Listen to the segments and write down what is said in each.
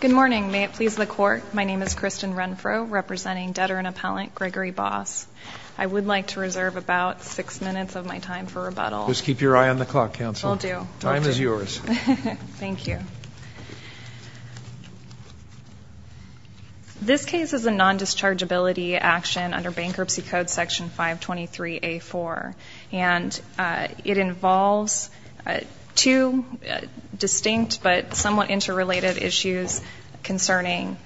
Good morning. May it please the Court, my name is Kristen Renfro, representing Debtor and Appellant Gregory Bos. I would like to reserve about six minutes of my time for rebuttal. Just keep your eye on the clock, Counselor. Will do. Time is yours. Thank you. This case is a non-dischargeability action under Bankruptcy Code Section 523A4, and it involves two distinct but somewhat interrelated issues concerning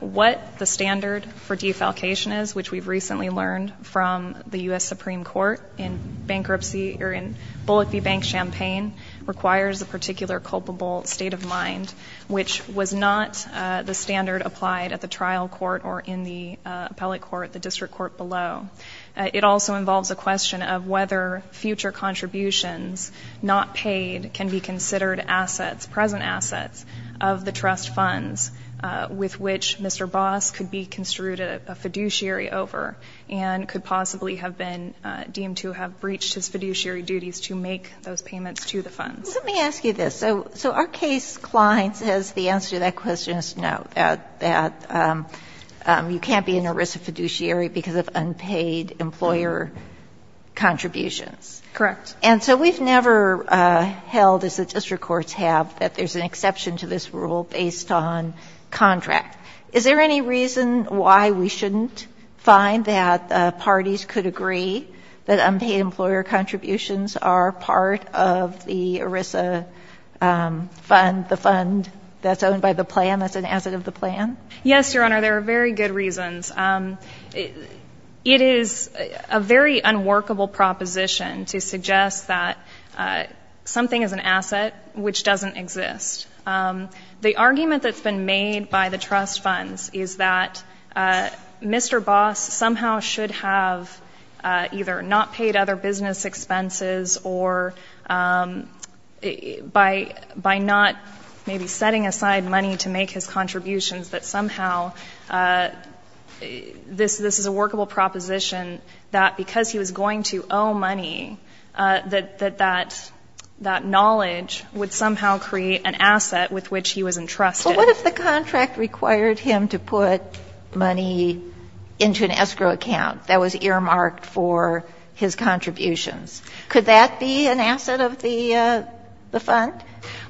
what the standard for defalcation is, which we've recently learned from the U.S. Supreme Court in Bankruptcy, or in Bullock v. Bank Champaign, requires a particular culpable state of mind, which was not the standard applied at the trial court or in the appellate court, the district court below. It also involves a question of whether future contributions, not paid, can be considered assets, present assets, of the trust funds with which Mr. Bos could be construed a fiduciary over, and could possibly have been deemed to have breached his fiduciary duties to make those payments to the funds. Let me ask you this. So our case, Klein, says the answer to that question is no, that you can't be an ERISA fiduciary because of unpaid employer contributions. Correct. And so we've never held, as the district courts have, that there's an exception to this rule based on contract. Is there any reason why we shouldn't find that parties could agree that unpaid employer contributions are part of the ERISA fund, the fund that's owned by the plan, that's an asset of the plan? Yes, Your Honor, there are very good reasons. It is a very unworkable proposition to suggest that something is an asset which doesn't exist. The argument that's been made by the trust funds is that Mr. Bos somehow should have either not paid other business expenses or by not maybe setting aside money to make his contributions that somehow this is a workable proposition, that because he was going to owe money, that that knowledge would somehow create an asset with which he was entrusted. Well, what if the contract required him to put money into an escrow account that was earmarked for his contributions? Could that be an asset of the fund?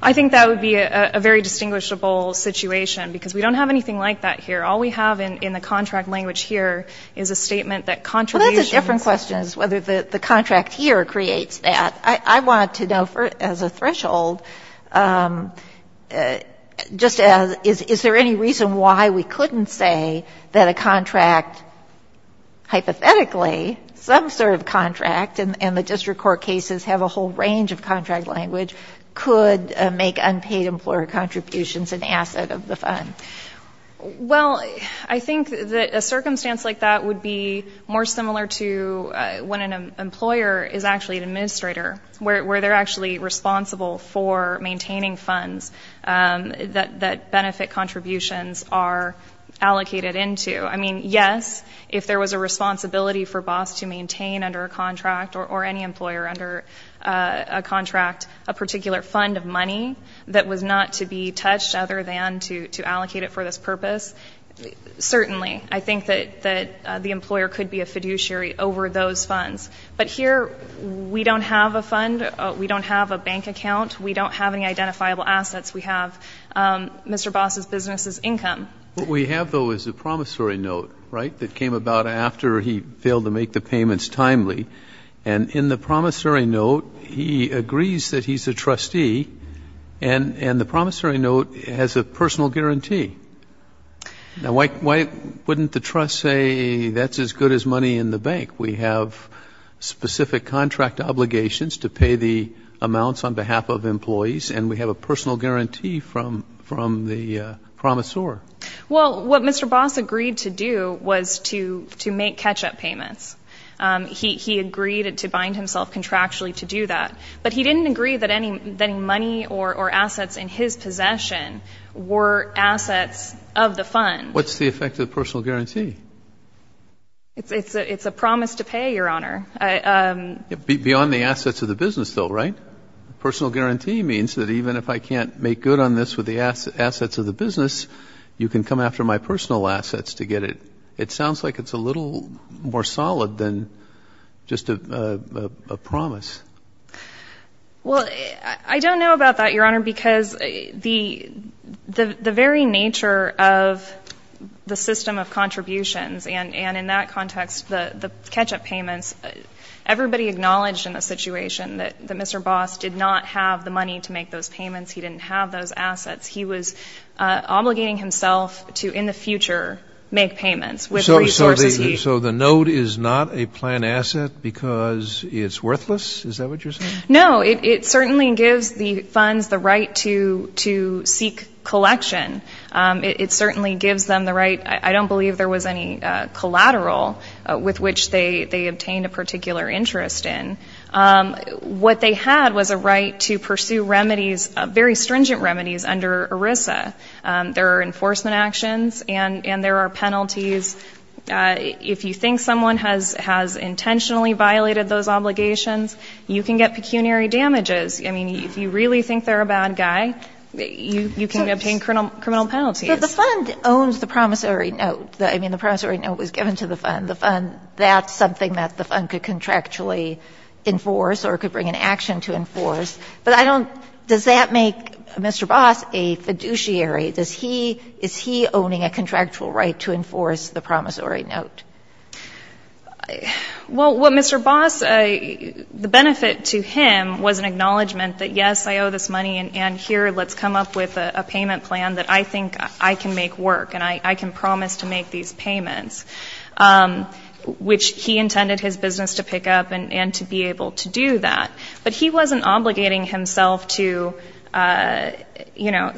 I think that would be a very distinguishable situation, because we don't have anything like that here. All we have in the contract language here is a statement that contributions... Well, that's a different question as to whether the contract here creates that. I want to know, as a threshold, just is there any reason why we couldn't say that a contract, hypothetically, some sort of contract, and the district court cases have a whole range of contract language, could make unpaid employer contributions an asset of the fund? Well, I think that a circumstance like that would be more similar to when an employer is actually an administrator, where they're actually responsible for maintaining funds that benefit contributions are allocated into. I mean, yes, if there was a responsibility for BOSS to maintain under a contract, or any employer under a contract, a particular fund of money that was not to be touched other than to allocate it for this purpose, certainly, I think that the employer could be a fiduciary over those funds. But here, we don't have a fund. We don't have a bank account. We don't have any identifiable assets. We have Mr. BOSS's business's income. What we have, though, is a promissory note, right, that came about after he failed to make the payments timely. And in the promissory note, he agrees that he's a trustee, and the promissory note has a personal guarantee. Now, why wouldn't the trust say that's as good as money in the bank? We have specific contract obligations to pay the amounts on behalf of employees, and we have a personal guarantee from the promissor. Well, what Mr. BOSS agreed to do was to make catch-up payments. He agreed to bind himself contractually to do that. But he didn't agree that any money or assets in his possession were assets of the fund. What's the effect of the personal guarantee? It's a promise to pay, Your Honor. Beyond the assets of the business, though, right? Personal guarantee means that even if I can't make good on this with the assets of the business, you can come after my personal assets to get it. It sounds like it's a little more solid than just a promise. Well, I don't know about that, Your Honor, because the very nature of the system of contributions, and in that context, the catch-up payments, everybody acknowledged in the situation that Mr. BOSS did not have the money to make those payments. He didn't have those assets. He was obligating himself to, in the future, make payments. So the note is not a planned asset because it's worthless? Is that what you're saying? No. It certainly gives the funds the right to seek collection. It certainly gives them the right. I don't believe there was any collateral with which they obtained a particular interest in. What they had was a right to pursue remedies, very stringent remedies, under ERISA. There are enforcement actions and there are penalties. If you think someone has intentionally violated those obligations, you can get pecuniary damages. I mean, if you really think they're a bad guy, you can obtain criminal penalties. But the fund owns the promissory note. I mean, the promissory note was given to the fund. That's something that the fund could contractually enforce or could bring an action to enforce. But I don't – does that make Mr. BOSS a fiduciary? Is he owning a contractual right to enforce the promissory note? Well, what Mr. BOSS – the benefit to him was an acknowledgment that, yes, I owe this money and here, let's come up with a payment plan that I think I can make work and I can promise to make these payments, which he intended his business to pick up and to be able to do that. But he wasn't obligating himself to, you know,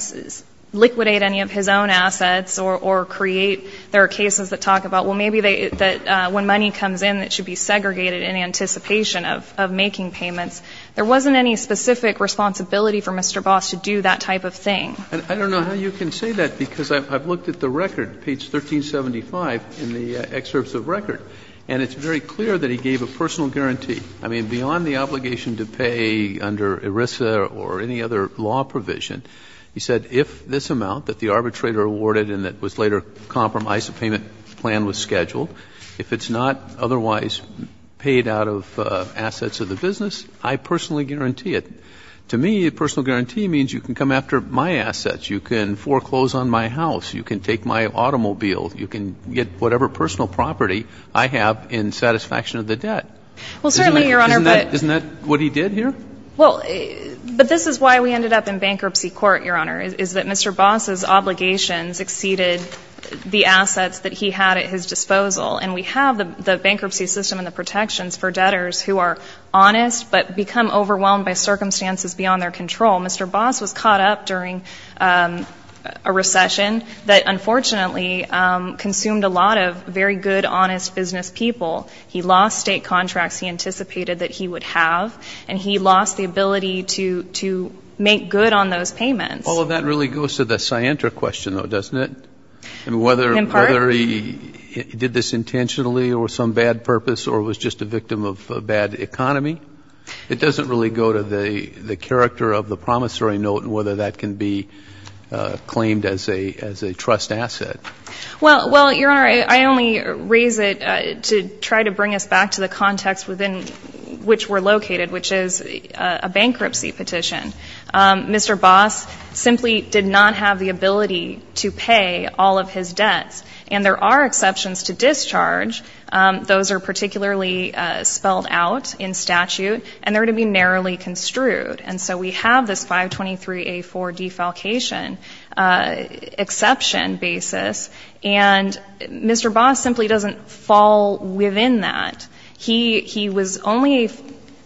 liquidate any of his own assets or create – there are cases that talk about, well, maybe when money comes in, it should be segregated in anticipation of making payments. There wasn't any specific responsibility for Mr. BOSS to do that type of thing. I don't know how you can say that because I've looked at the record, page 1375 in the excerpts of the record, and it's very clear that he gave a personal guarantee. I mean, beyond the obligation to pay under ERISA or any other law provision, he said, if this amount that the arbitrator awarded and that was later compromised, the payment plan was scheduled, if it's not otherwise paid out of assets, you can foreclose on my house, you can take my automobile, you can get whatever personal property I have in satisfaction of the debt. Isn't that what he did here? Well, but this is why we ended up in bankruptcy court, Your Honor, is that Mr. BOSS's obligations exceeded the assets that he had at his disposal. And we have the bankruptcy system and the protections for debtors who are honest but become overwhelmed by circumstances beyond their control. Mr. BOSS was caught up during a recession that unfortunately consumed a lot of very good, honest business people. He lost state contracts he anticipated that he would have, and he lost the ability to make good on those payments. All of that really goes to the Scientra question, though, doesn't it? In part. Whether he did this intentionally or some bad purpose or was just a victim of a bad economy? It doesn't really go to the character of the promissory note and whether that can be claimed as a trust asset. Well, Your Honor, I only raise it to try to bring us back to the context within which we're located, which is a bankruptcy petition. Mr. BOSS simply did not have the ability to pay all of his debts. And there are exceptions to discharge. Those are particularly spelled out in statute. And they're to be narrowly construed. And so we have this 523A4 defalcation exception basis. And Mr. BOSS simply doesn't fall within that. He was only,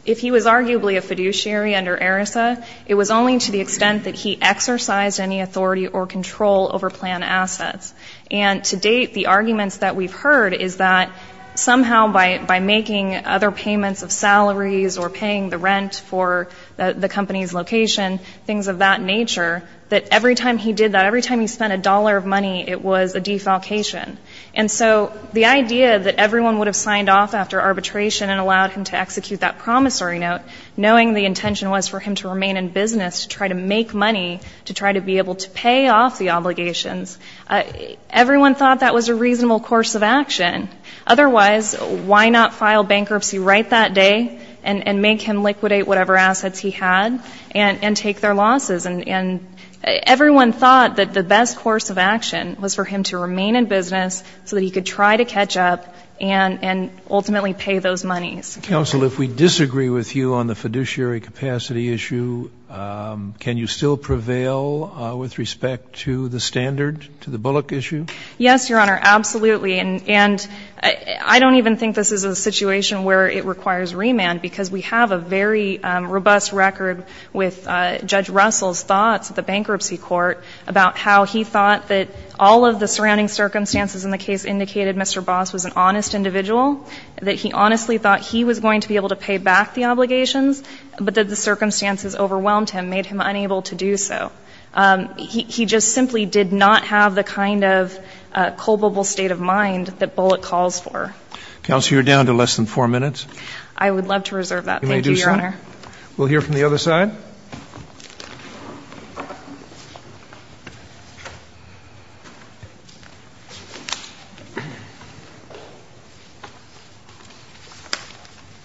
if he was arguably a fiduciary under ERISA, it was only to the extent that he exercised any authority or control over plan assets. And to date the arguments that we've heard is that somehow by making other payments of salaries or paying the rent for the company's location, things of that nature, that every time he did that, every time he spent a dollar of money, it was a defalcation. And so the idea that everyone would have signed off after arbitration and allowed him to execute that promissory note, knowing the intention was for him to remain in business, to try to make money, to try to be able to pay off the obligations, everyone thought that was a reasonable course of action. Otherwise, why not file bankruptcy right that day and make him liquidate whatever assets he had and take their losses? And everyone thought that the best course of action was for him to remain in business so that he could try to catch up and ultimately pay those monies. Counsel, if we disagree with you on the fiduciary capacity issue, can you still prevail with respect to the standard, to the Bullock issue? Yes, Your Honor, absolutely. And I don't even think this is a record with Judge Russell's thoughts at the bankruptcy court about how he thought that all of the surrounding circumstances in the case indicated Mr. Boss was an honest individual, that he honestly thought he was going to be able to pay back the obligations, but that the circumstances overwhelmed him, made him unable to do so. He just simply did not have the kind of culpable state of mind that Bullock calls for. Counsel, you're down to less than four minutes. I would love to reserve that, thank you, Your Honor. We'll hear from the other side.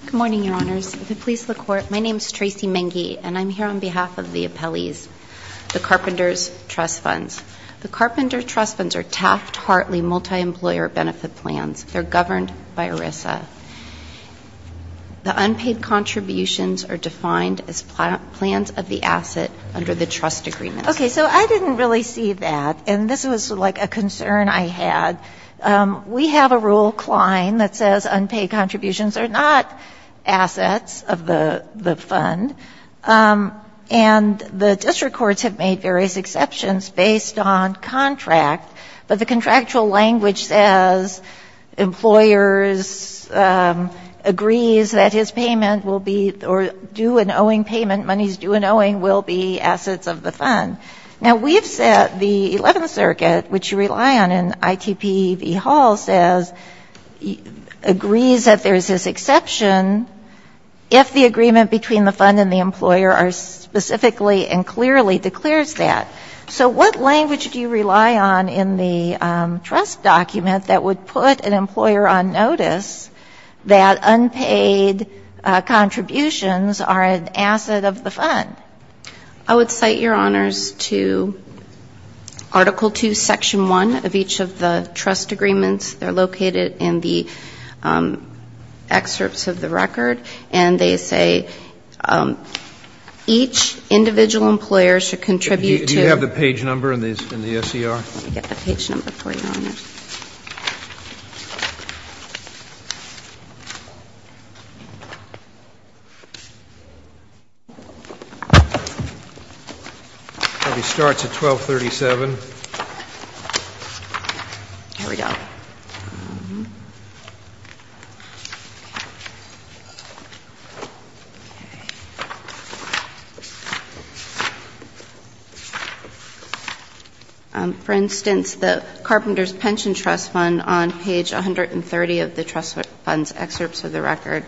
Good morning, Your Honors. If it pleases the Court, my name is Tracy Menge, and I'm here on behalf of the appellees, the Carpenters Trust Funds. The Carpenters Trust Funds are taft, hearty, multi-employer benefit plans. They're governed by ERISA. The unpaid contributions are defined as plans of the asset under the trust agreement. Okay, so I didn't really see that, and this was like a concern I had. We have a rule, Klein, that says unpaid contributions are not assets of the fund, and the district courts have made various exceptions based on contract, but the contractual language says employers agrees that his payment will be or do an owing payment, money is due an owing, will be assets of the fund. Now, we have said the Eleventh Circuit, which you rely on in ITP v. Hall, says, agrees that there's this exception if the agreement between the fund and the employer are specifically and clearly declares that. So what language do you rely on in the trust document that would put an employer on notice that unpaid contributions are an asset of the fund? I would cite your honors to Article 2, Section 1 of each of the trust agreements. They're located in the excerpts of the record, and they say each individual employer should contribute to. Do you have the page number in the SCR? It probably starts at 1237. Here we go. For instance, the Carpenters Pension Trust Fund, on page 130 of the trust fund's excerpts of the record.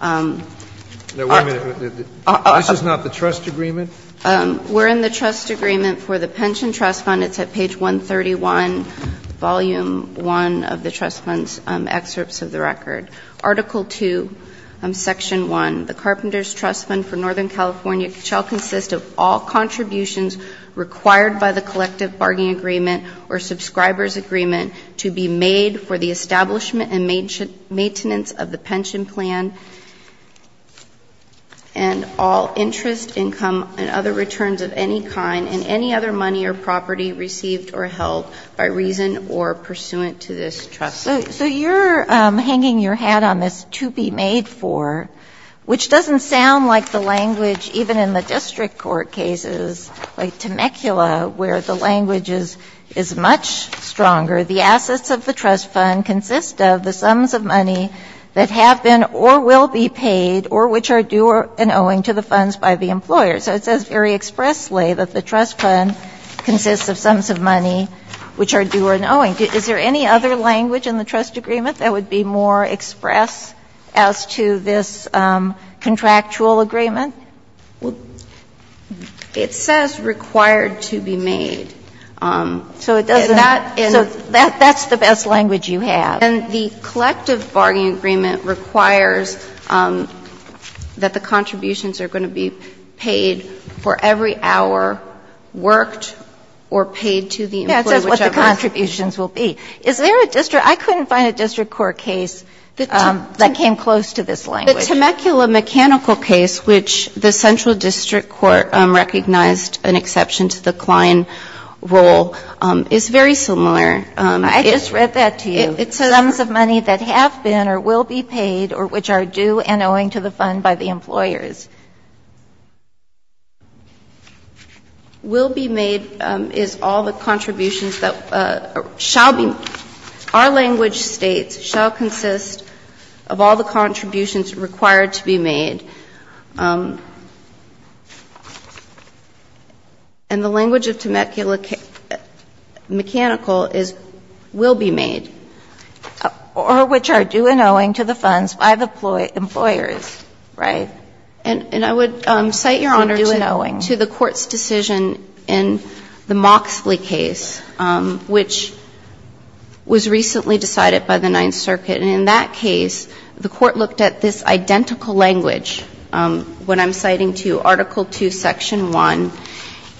Now, wait a minute. This is not the trust agreement? We're in the trust agreement for the Pension Trust Fund. It's at page 131, Volume 1 of the trust fund's excerpts of the record. Article 2, Section 1, the Carpenters Trust Fund for Northern California shall consist of all contributions required by the collective bargaining agreement or subscriber's agreement to be made for the establishment and maintenance of the pension plan, and all interest, income, and other returns of any kind in any other money or property received or held by reason or pursuant to this trust fund. So you're hanging your hat on this to be made for, which doesn't sound like the language, even in the district court cases, like Temecula, where the language is much stronger. The assets of the trust fund consist of the sums of money that have been or will be paid or which are due or owing to the funds by the employer. So it says very expressly that the trust fund consists of sums of money which are due or owing. Is there any other language in the trust agreement that would be more express as to this contractual agreement? Well, it says required to be made. So it doesn't. So that's the best language you have. And the collective bargaining agreement requires that the contributions are going to be paid for every hour worked or paid to the employee, whichever. Yes, that's what the contributions will be. Is there a district – I couldn't find a district court case that came close to this language. The Temecula mechanical case, which the central district court recognized an exception to the Klein rule, is very similar. I just read that to you. It says sums of money that have been or will be paid or which are due and owing to the fund by the employers. Will be made is all the contributions that shall be. Our language states shall consist of all the contributions required to be made. And the language of Temecula mechanical is will be made. Or which are due and owing to the funds by the employers. Right. And I would cite, Your Honor, to the court's decision in the Moxley case, which was recently decided by the Ninth Circuit. And in that case, the court looked at this identical language when I'm citing to you Article 2, Section 1.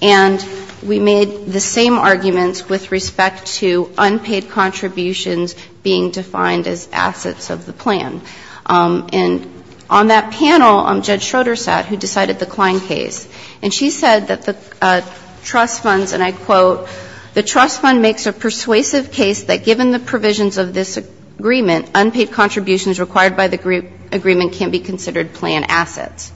And we made the same arguments with respect to unpaid contributions being defined as assets of the plan. And on that panel, Judge Schroeder sat, who decided the Klein case. And she said that the trust funds, and I quote, the trust fund makes a persuasive case that given the provisions of this agreement, unpaid contributions required by the agreement can be considered plan assets.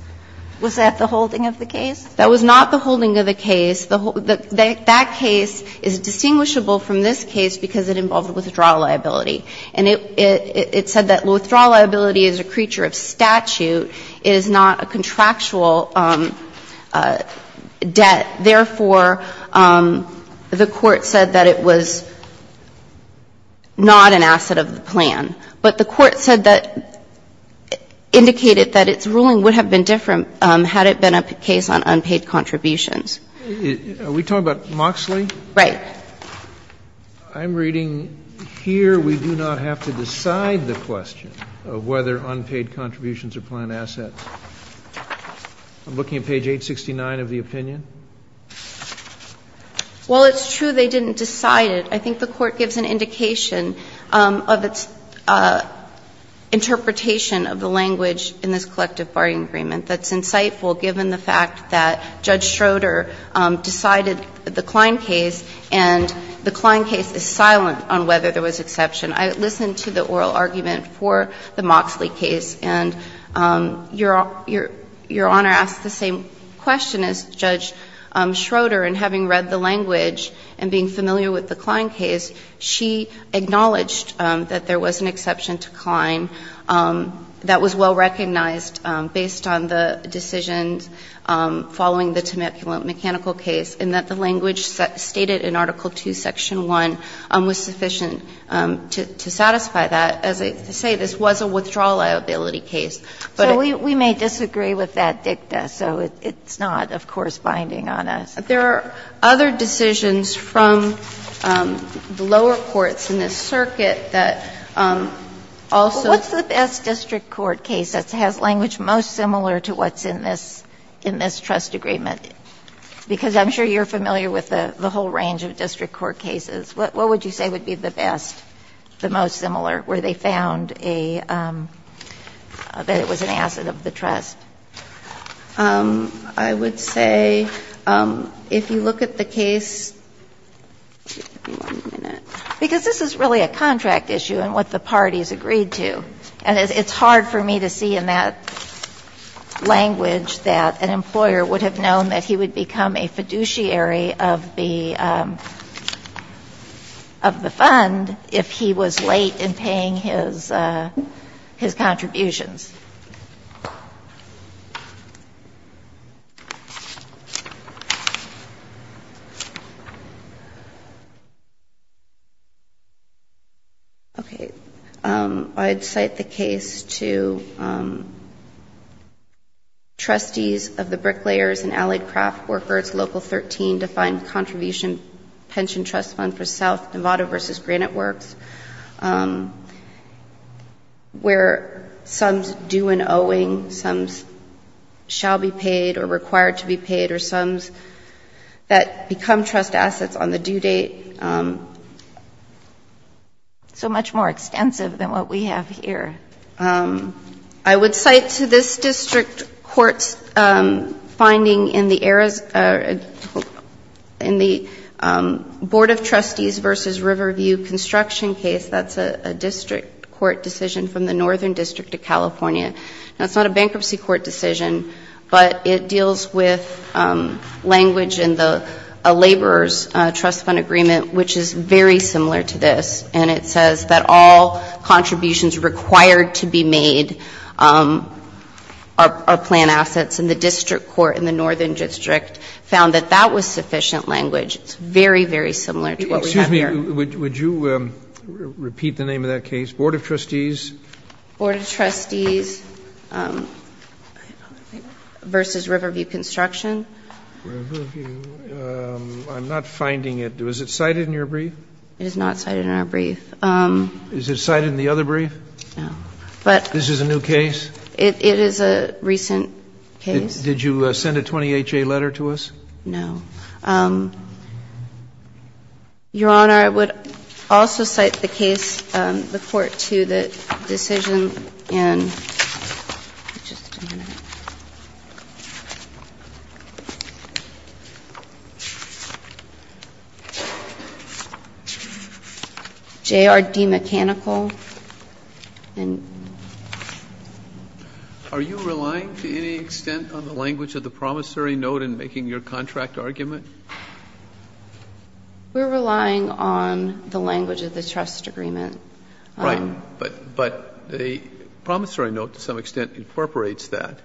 Was that the holding of the case? That was not the holding of the case. That case is distinguishable from this case because it involved withdrawal liability. And it said that withdrawal liability is a creature of statute. It is not a contractual debt. Therefore, the court said that it was not an asset of the plan. But the court said that, indicated that its ruling would have been different had it been a case on unpaid contributions. Are we talking about Moxley? Right. I'm reading here we do not have to decide the question of whether unpaid contributions are plan assets. I'm looking at page 869 of the opinion. Well, it's true they didn't decide it. I think the court gives an indication of its interpretation of the language in this collective bargaining agreement that's insightful given the fact that Judge Schroeder decided the Klein case. And the Klein case is silent on whether there was exception. I listened to the oral argument for the Moxley case. And Your Honor asked the same question as Judge Schroeder in having read the language and being familiar with the Klein case. She acknowledged that there was an exception to Klein that was well recognized based on the decisions following the Temecula mechanical case, and that the language stated in Article II, Section 1 was sufficient to satisfy that. As I say, this was a withdrawal liability case. But it's not binding on us. There are other decisions from the lower courts in this circuit that also. What's the best district court case that has language most similar to what's in this trust agreement? Because I'm sure you're familiar with the whole range of district court cases. What would you say would be the best, the most similar, where they found a, that it was an asset of the trust? I would say if you look at the case, give me one minute, because this is really a contract issue and what the parties agreed to. And it's hard for me to see in that language that an employer would have known that he would become a fiduciary of the fund if he was late in paying his contributions. Okay. I'd cite the case to trustees of the Bricklayers and Allied Craft Workers, Local 13, defined contribution pension trust fund for South Nevada versus Granite Works, where some's due and owing, some's shall be paid or required to be paid, or some's that become non-trust assets on the due date. So much more extensive than what we have here. I would cite to this district court's finding in the Board of Trustees versus Riverview construction case, that's a district court decision from the Northern District of California. Now, it's not a bankruptcy court decision, but it deals with language in the laborer's trust fund agreement, which is very similar to this. And it says that all contributions required to be made are planned assets. And the district court in the Northern District found that that was sufficient language. It's very, very similar to what we have here. Excuse me. Would you repeat the name of that case? Board of Trustees? Board of Trustees versus Riverview Construction. Riverview. I'm not finding it. Was it cited in your brief? It is not cited in our brief. Is it cited in the other brief? No. But this is a new case? It is a recent case. Did you send a 20HA letter to us? No. Your Honor, I would also cite the case, the court, to the decision in JRD Mechanical. Are you relying to any extent on the language of the promissory note in making your contract argument? We're relying on the language of the trust agreement. Right. But the promissory note, to some extent, incorporates that.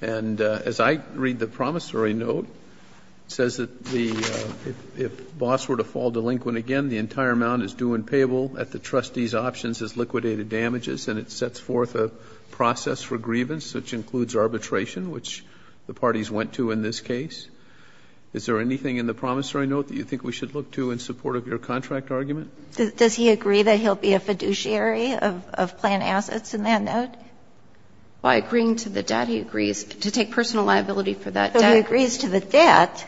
And as I read the promissory note, it says that if Boss were to fall delinquent again, the entire amount is due and payable at the trustee's options as liquidated damages, and it sets forth a process for grievance, which includes arbitration, which the parties went to in this case. Is there anything in the promissory note that you think we should look to in support of your contract argument? Does he agree that he'll be a fiduciary of planned assets in that note? By agreeing to the debt, he agrees. To take personal liability for that debt. So he agrees to the debt.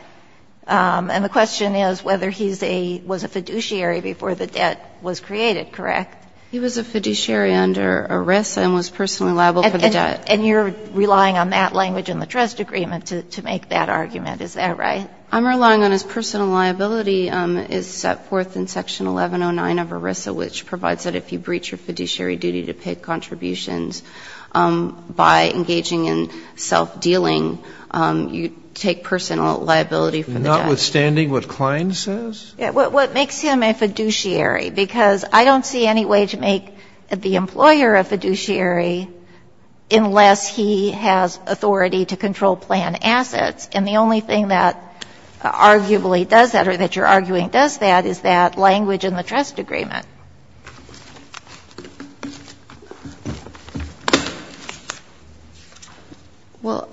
And the question is whether he was a fiduciary before the debt was created, correct? He was a fiduciary under arrest and was personally liable for the debt. And you're relying on that language in the trust agreement to make that argument. Is that right? I'm relying on his personal liability is set forth in section 1109 of ERISA, which provides that if you breach your fiduciary duty to pay contributions by engaging in self-dealing, you take personal liability for the debt. Notwithstanding what Klein says? What makes him a fiduciary, because I don't see any way to make the employer a fiduciary unless he has authority to control planned assets. And the only thing that arguably does that or that you're arguing does that is that language in the trust agreement. Well,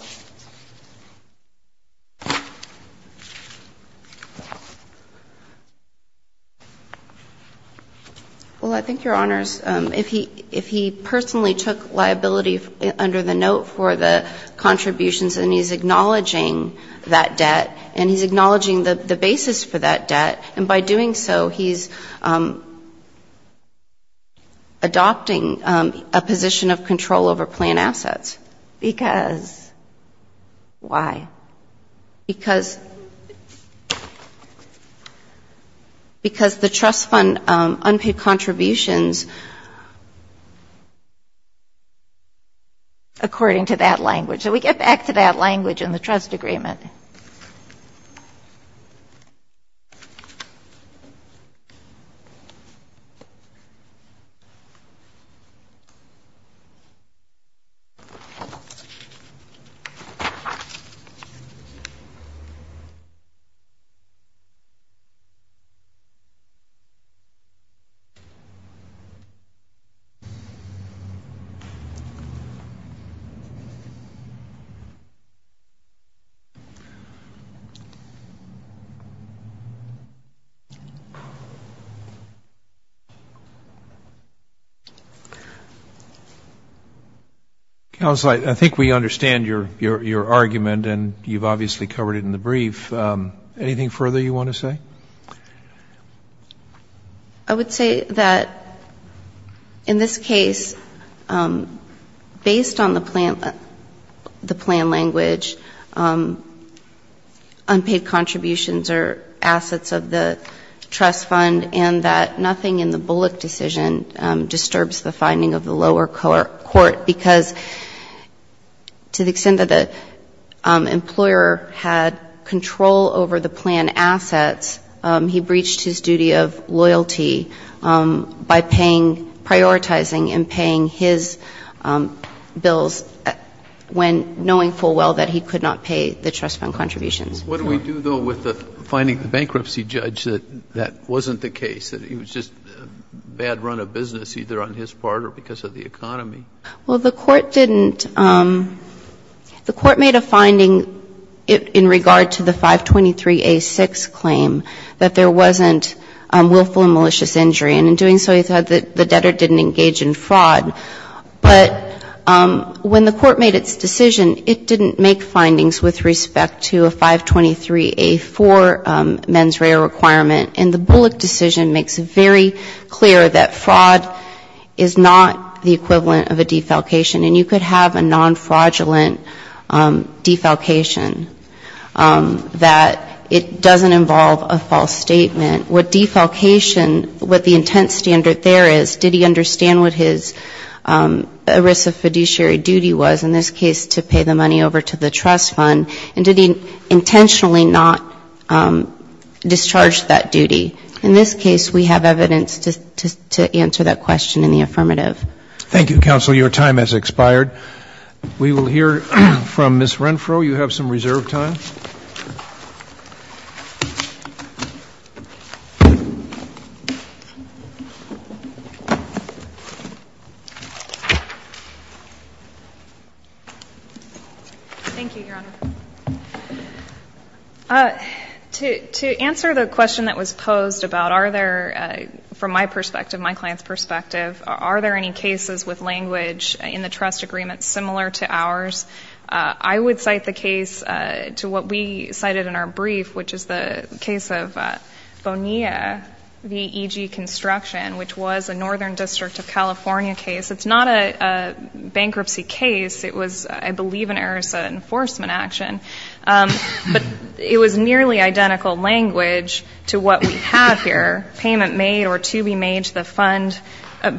I think, Your Honors, if he personally took liability under the note for the contributions and he's acknowledging that debt, and he's acknowledging the basis for that debt, and by doing so, he's taking liability under the note the basis for that debt. Adopting a position of control over planned assets. Because? Why? Because the trust fund unpaid contributions, according to that language. So we get back to that language in the trust agreement. Thank you. Counsel, I think we understand your argument, and you've obviously covered it in the brief. Anything further you want to say? I would say that in this case, based on the plan language, unpaid contributions are assets of the trust fund, and that nothing in the Bullock decision disturbs the finding of the lower court, because to the extent that the employer had control over the planned assets, he breached his duty of loyalty by paying, prioritizing and paying his bills when knowing full well that he could not pay the trust fund contributions. What do we do, though, with the finding of the bankruptcy judge, that that wasn't the case, that it was just a bad run of business, either on his part or because of the economy? Well, the court didn't. The court made a finding in regard to the 523A6 claim that there wasn't willful and malicious injury, and in doing so, he thought that the debtor didn't engage in fraud. But when the court made its decision, it didn't make findings with respect to a 523A4 mens rea requirement, and the Bullock decision makes it very clear that fraud is not the equivalent of a defalcation, and you could have a nonfraudulent defalcation, that it doesn't involve a false statement. What defalcation, what the intent standard there is, did he understand what his risk of fiduciary duty was, in this case, to pay the money over to the trust fund, and did he intentionally not discharge that duty? In this case, we have evidence to answer that question in the affirmative. Thank you, counsel. Your time has expired. We will hear from Ms. Renfro. You have some reserve time. Thank you, Your Honor. To answer the question that was posed about are there, from my perspective, my client's perspective, are there any cases with language in the trust agreement similar to ours? I would cite the case to what we cited in our brief, which is the case of Bonilla v. EG Construction, which was a Northern District of California case. It's not a bankruptcy case. It was, I believe, an ERISA enforcement action. But it was nearly identical language to what we have here, payment made or to be made to the fund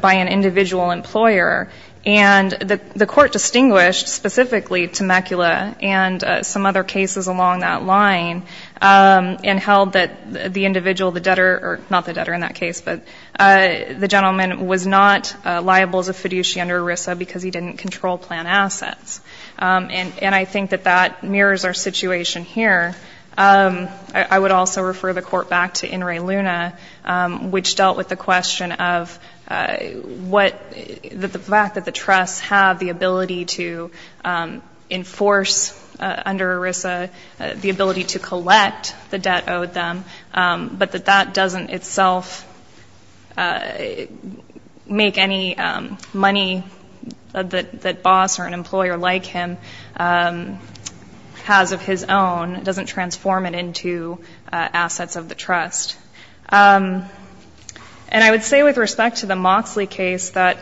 by an individual employer. And the court distinguished specifically Temecula and some other cases along that line and held that the individual, the debtor, or not the debtor in that case, but the gentleman was not liable as a fiduciary under ERISA because he didn't control plan assets. And I think that that mirrors our situation here. I would also refer the court back to In re Luna, which dealt with the question of the fact that the trust had the ability to enforce under ERISA the ability to collect the debt owed them, but that that doesn't itself make any money that boss or an employer like him has of his own, doesn't transform it into assets of the trust. And I would say with respect to the Moxley case that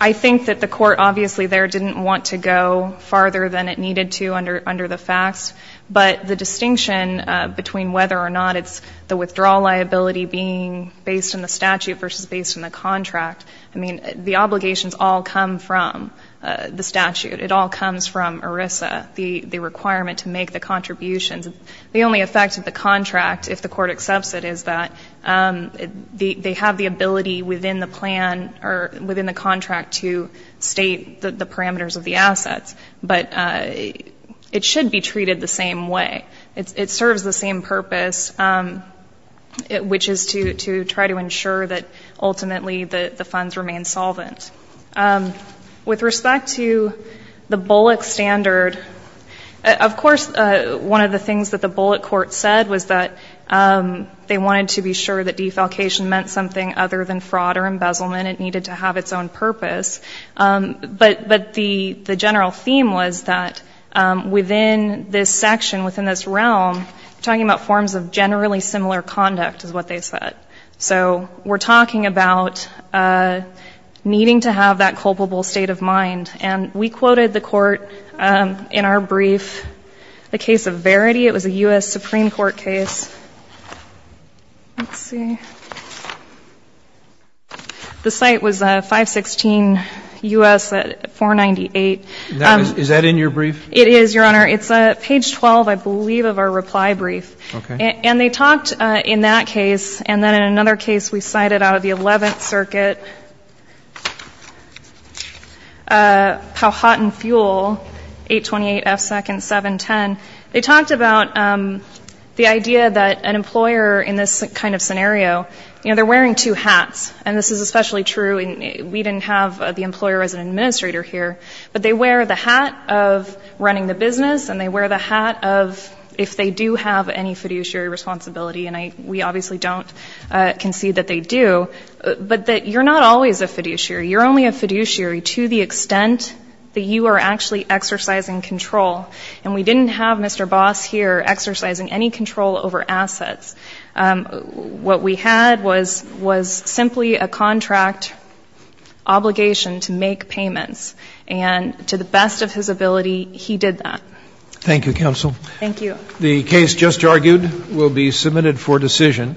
I think that the court obviously there didn't want to go farther than it needed to under the facts. But the distinction between whether or not it's the withdrawal liability being based in the statute versus based in the contract, I mean, the obligations all come from the statute. It all comes from ERISA, the requirement to make the contributions. The only effect of the contract, if the court accepts it, is that they have the ability within the plan or within the contract to state the parameters of the assets. But it should be treated the same way. It serves the same purpose, which is to try to ensure that ultimately the funds remain solvent. With respect to the Bullock standard, of course, one of the things that the Bullock court said was that they wanted to be sure that defalcation meant something other than fraud or embezzlement. It needed to have its own purpose. But the general theme was that within this section, within this realm, we're talking about forms of generally similar conduct is what they said. So we're talking about needing to have that culpable state of mind. And we quoted the court in our brief, the case of Verity. It was a U.S. Supreme Court case. Let's see. The site was 516 U.S. 498. Is that in your brief? It is, Your Honor. It's page 12, I believe, of our reply brief. Okay. And they talked in that case, and then in another case we cited out of the 11th Circuit, how hot and fuel, 828 F seconds, 710, they talked about the idea that an employer in this kind of scenario, you know, they're wearing two hats. And this is especially true. We didn't have the employer as an administrator here. But they wear the hat of running the business, and they wear the hat of if they do have any fiduciary responsibility, and we obviously don't concede that they do, but that you're not always a fiduciary. You're only a fiduciary to the extent that you are actually exercising control. And we didn't have Mr. Boss here exercising any control over assets. What we had was simply a contract obligation to make payments. And to the best of his ability, he did that. Thank you, counsel. Thank you. The case just argued will be submitted for decision.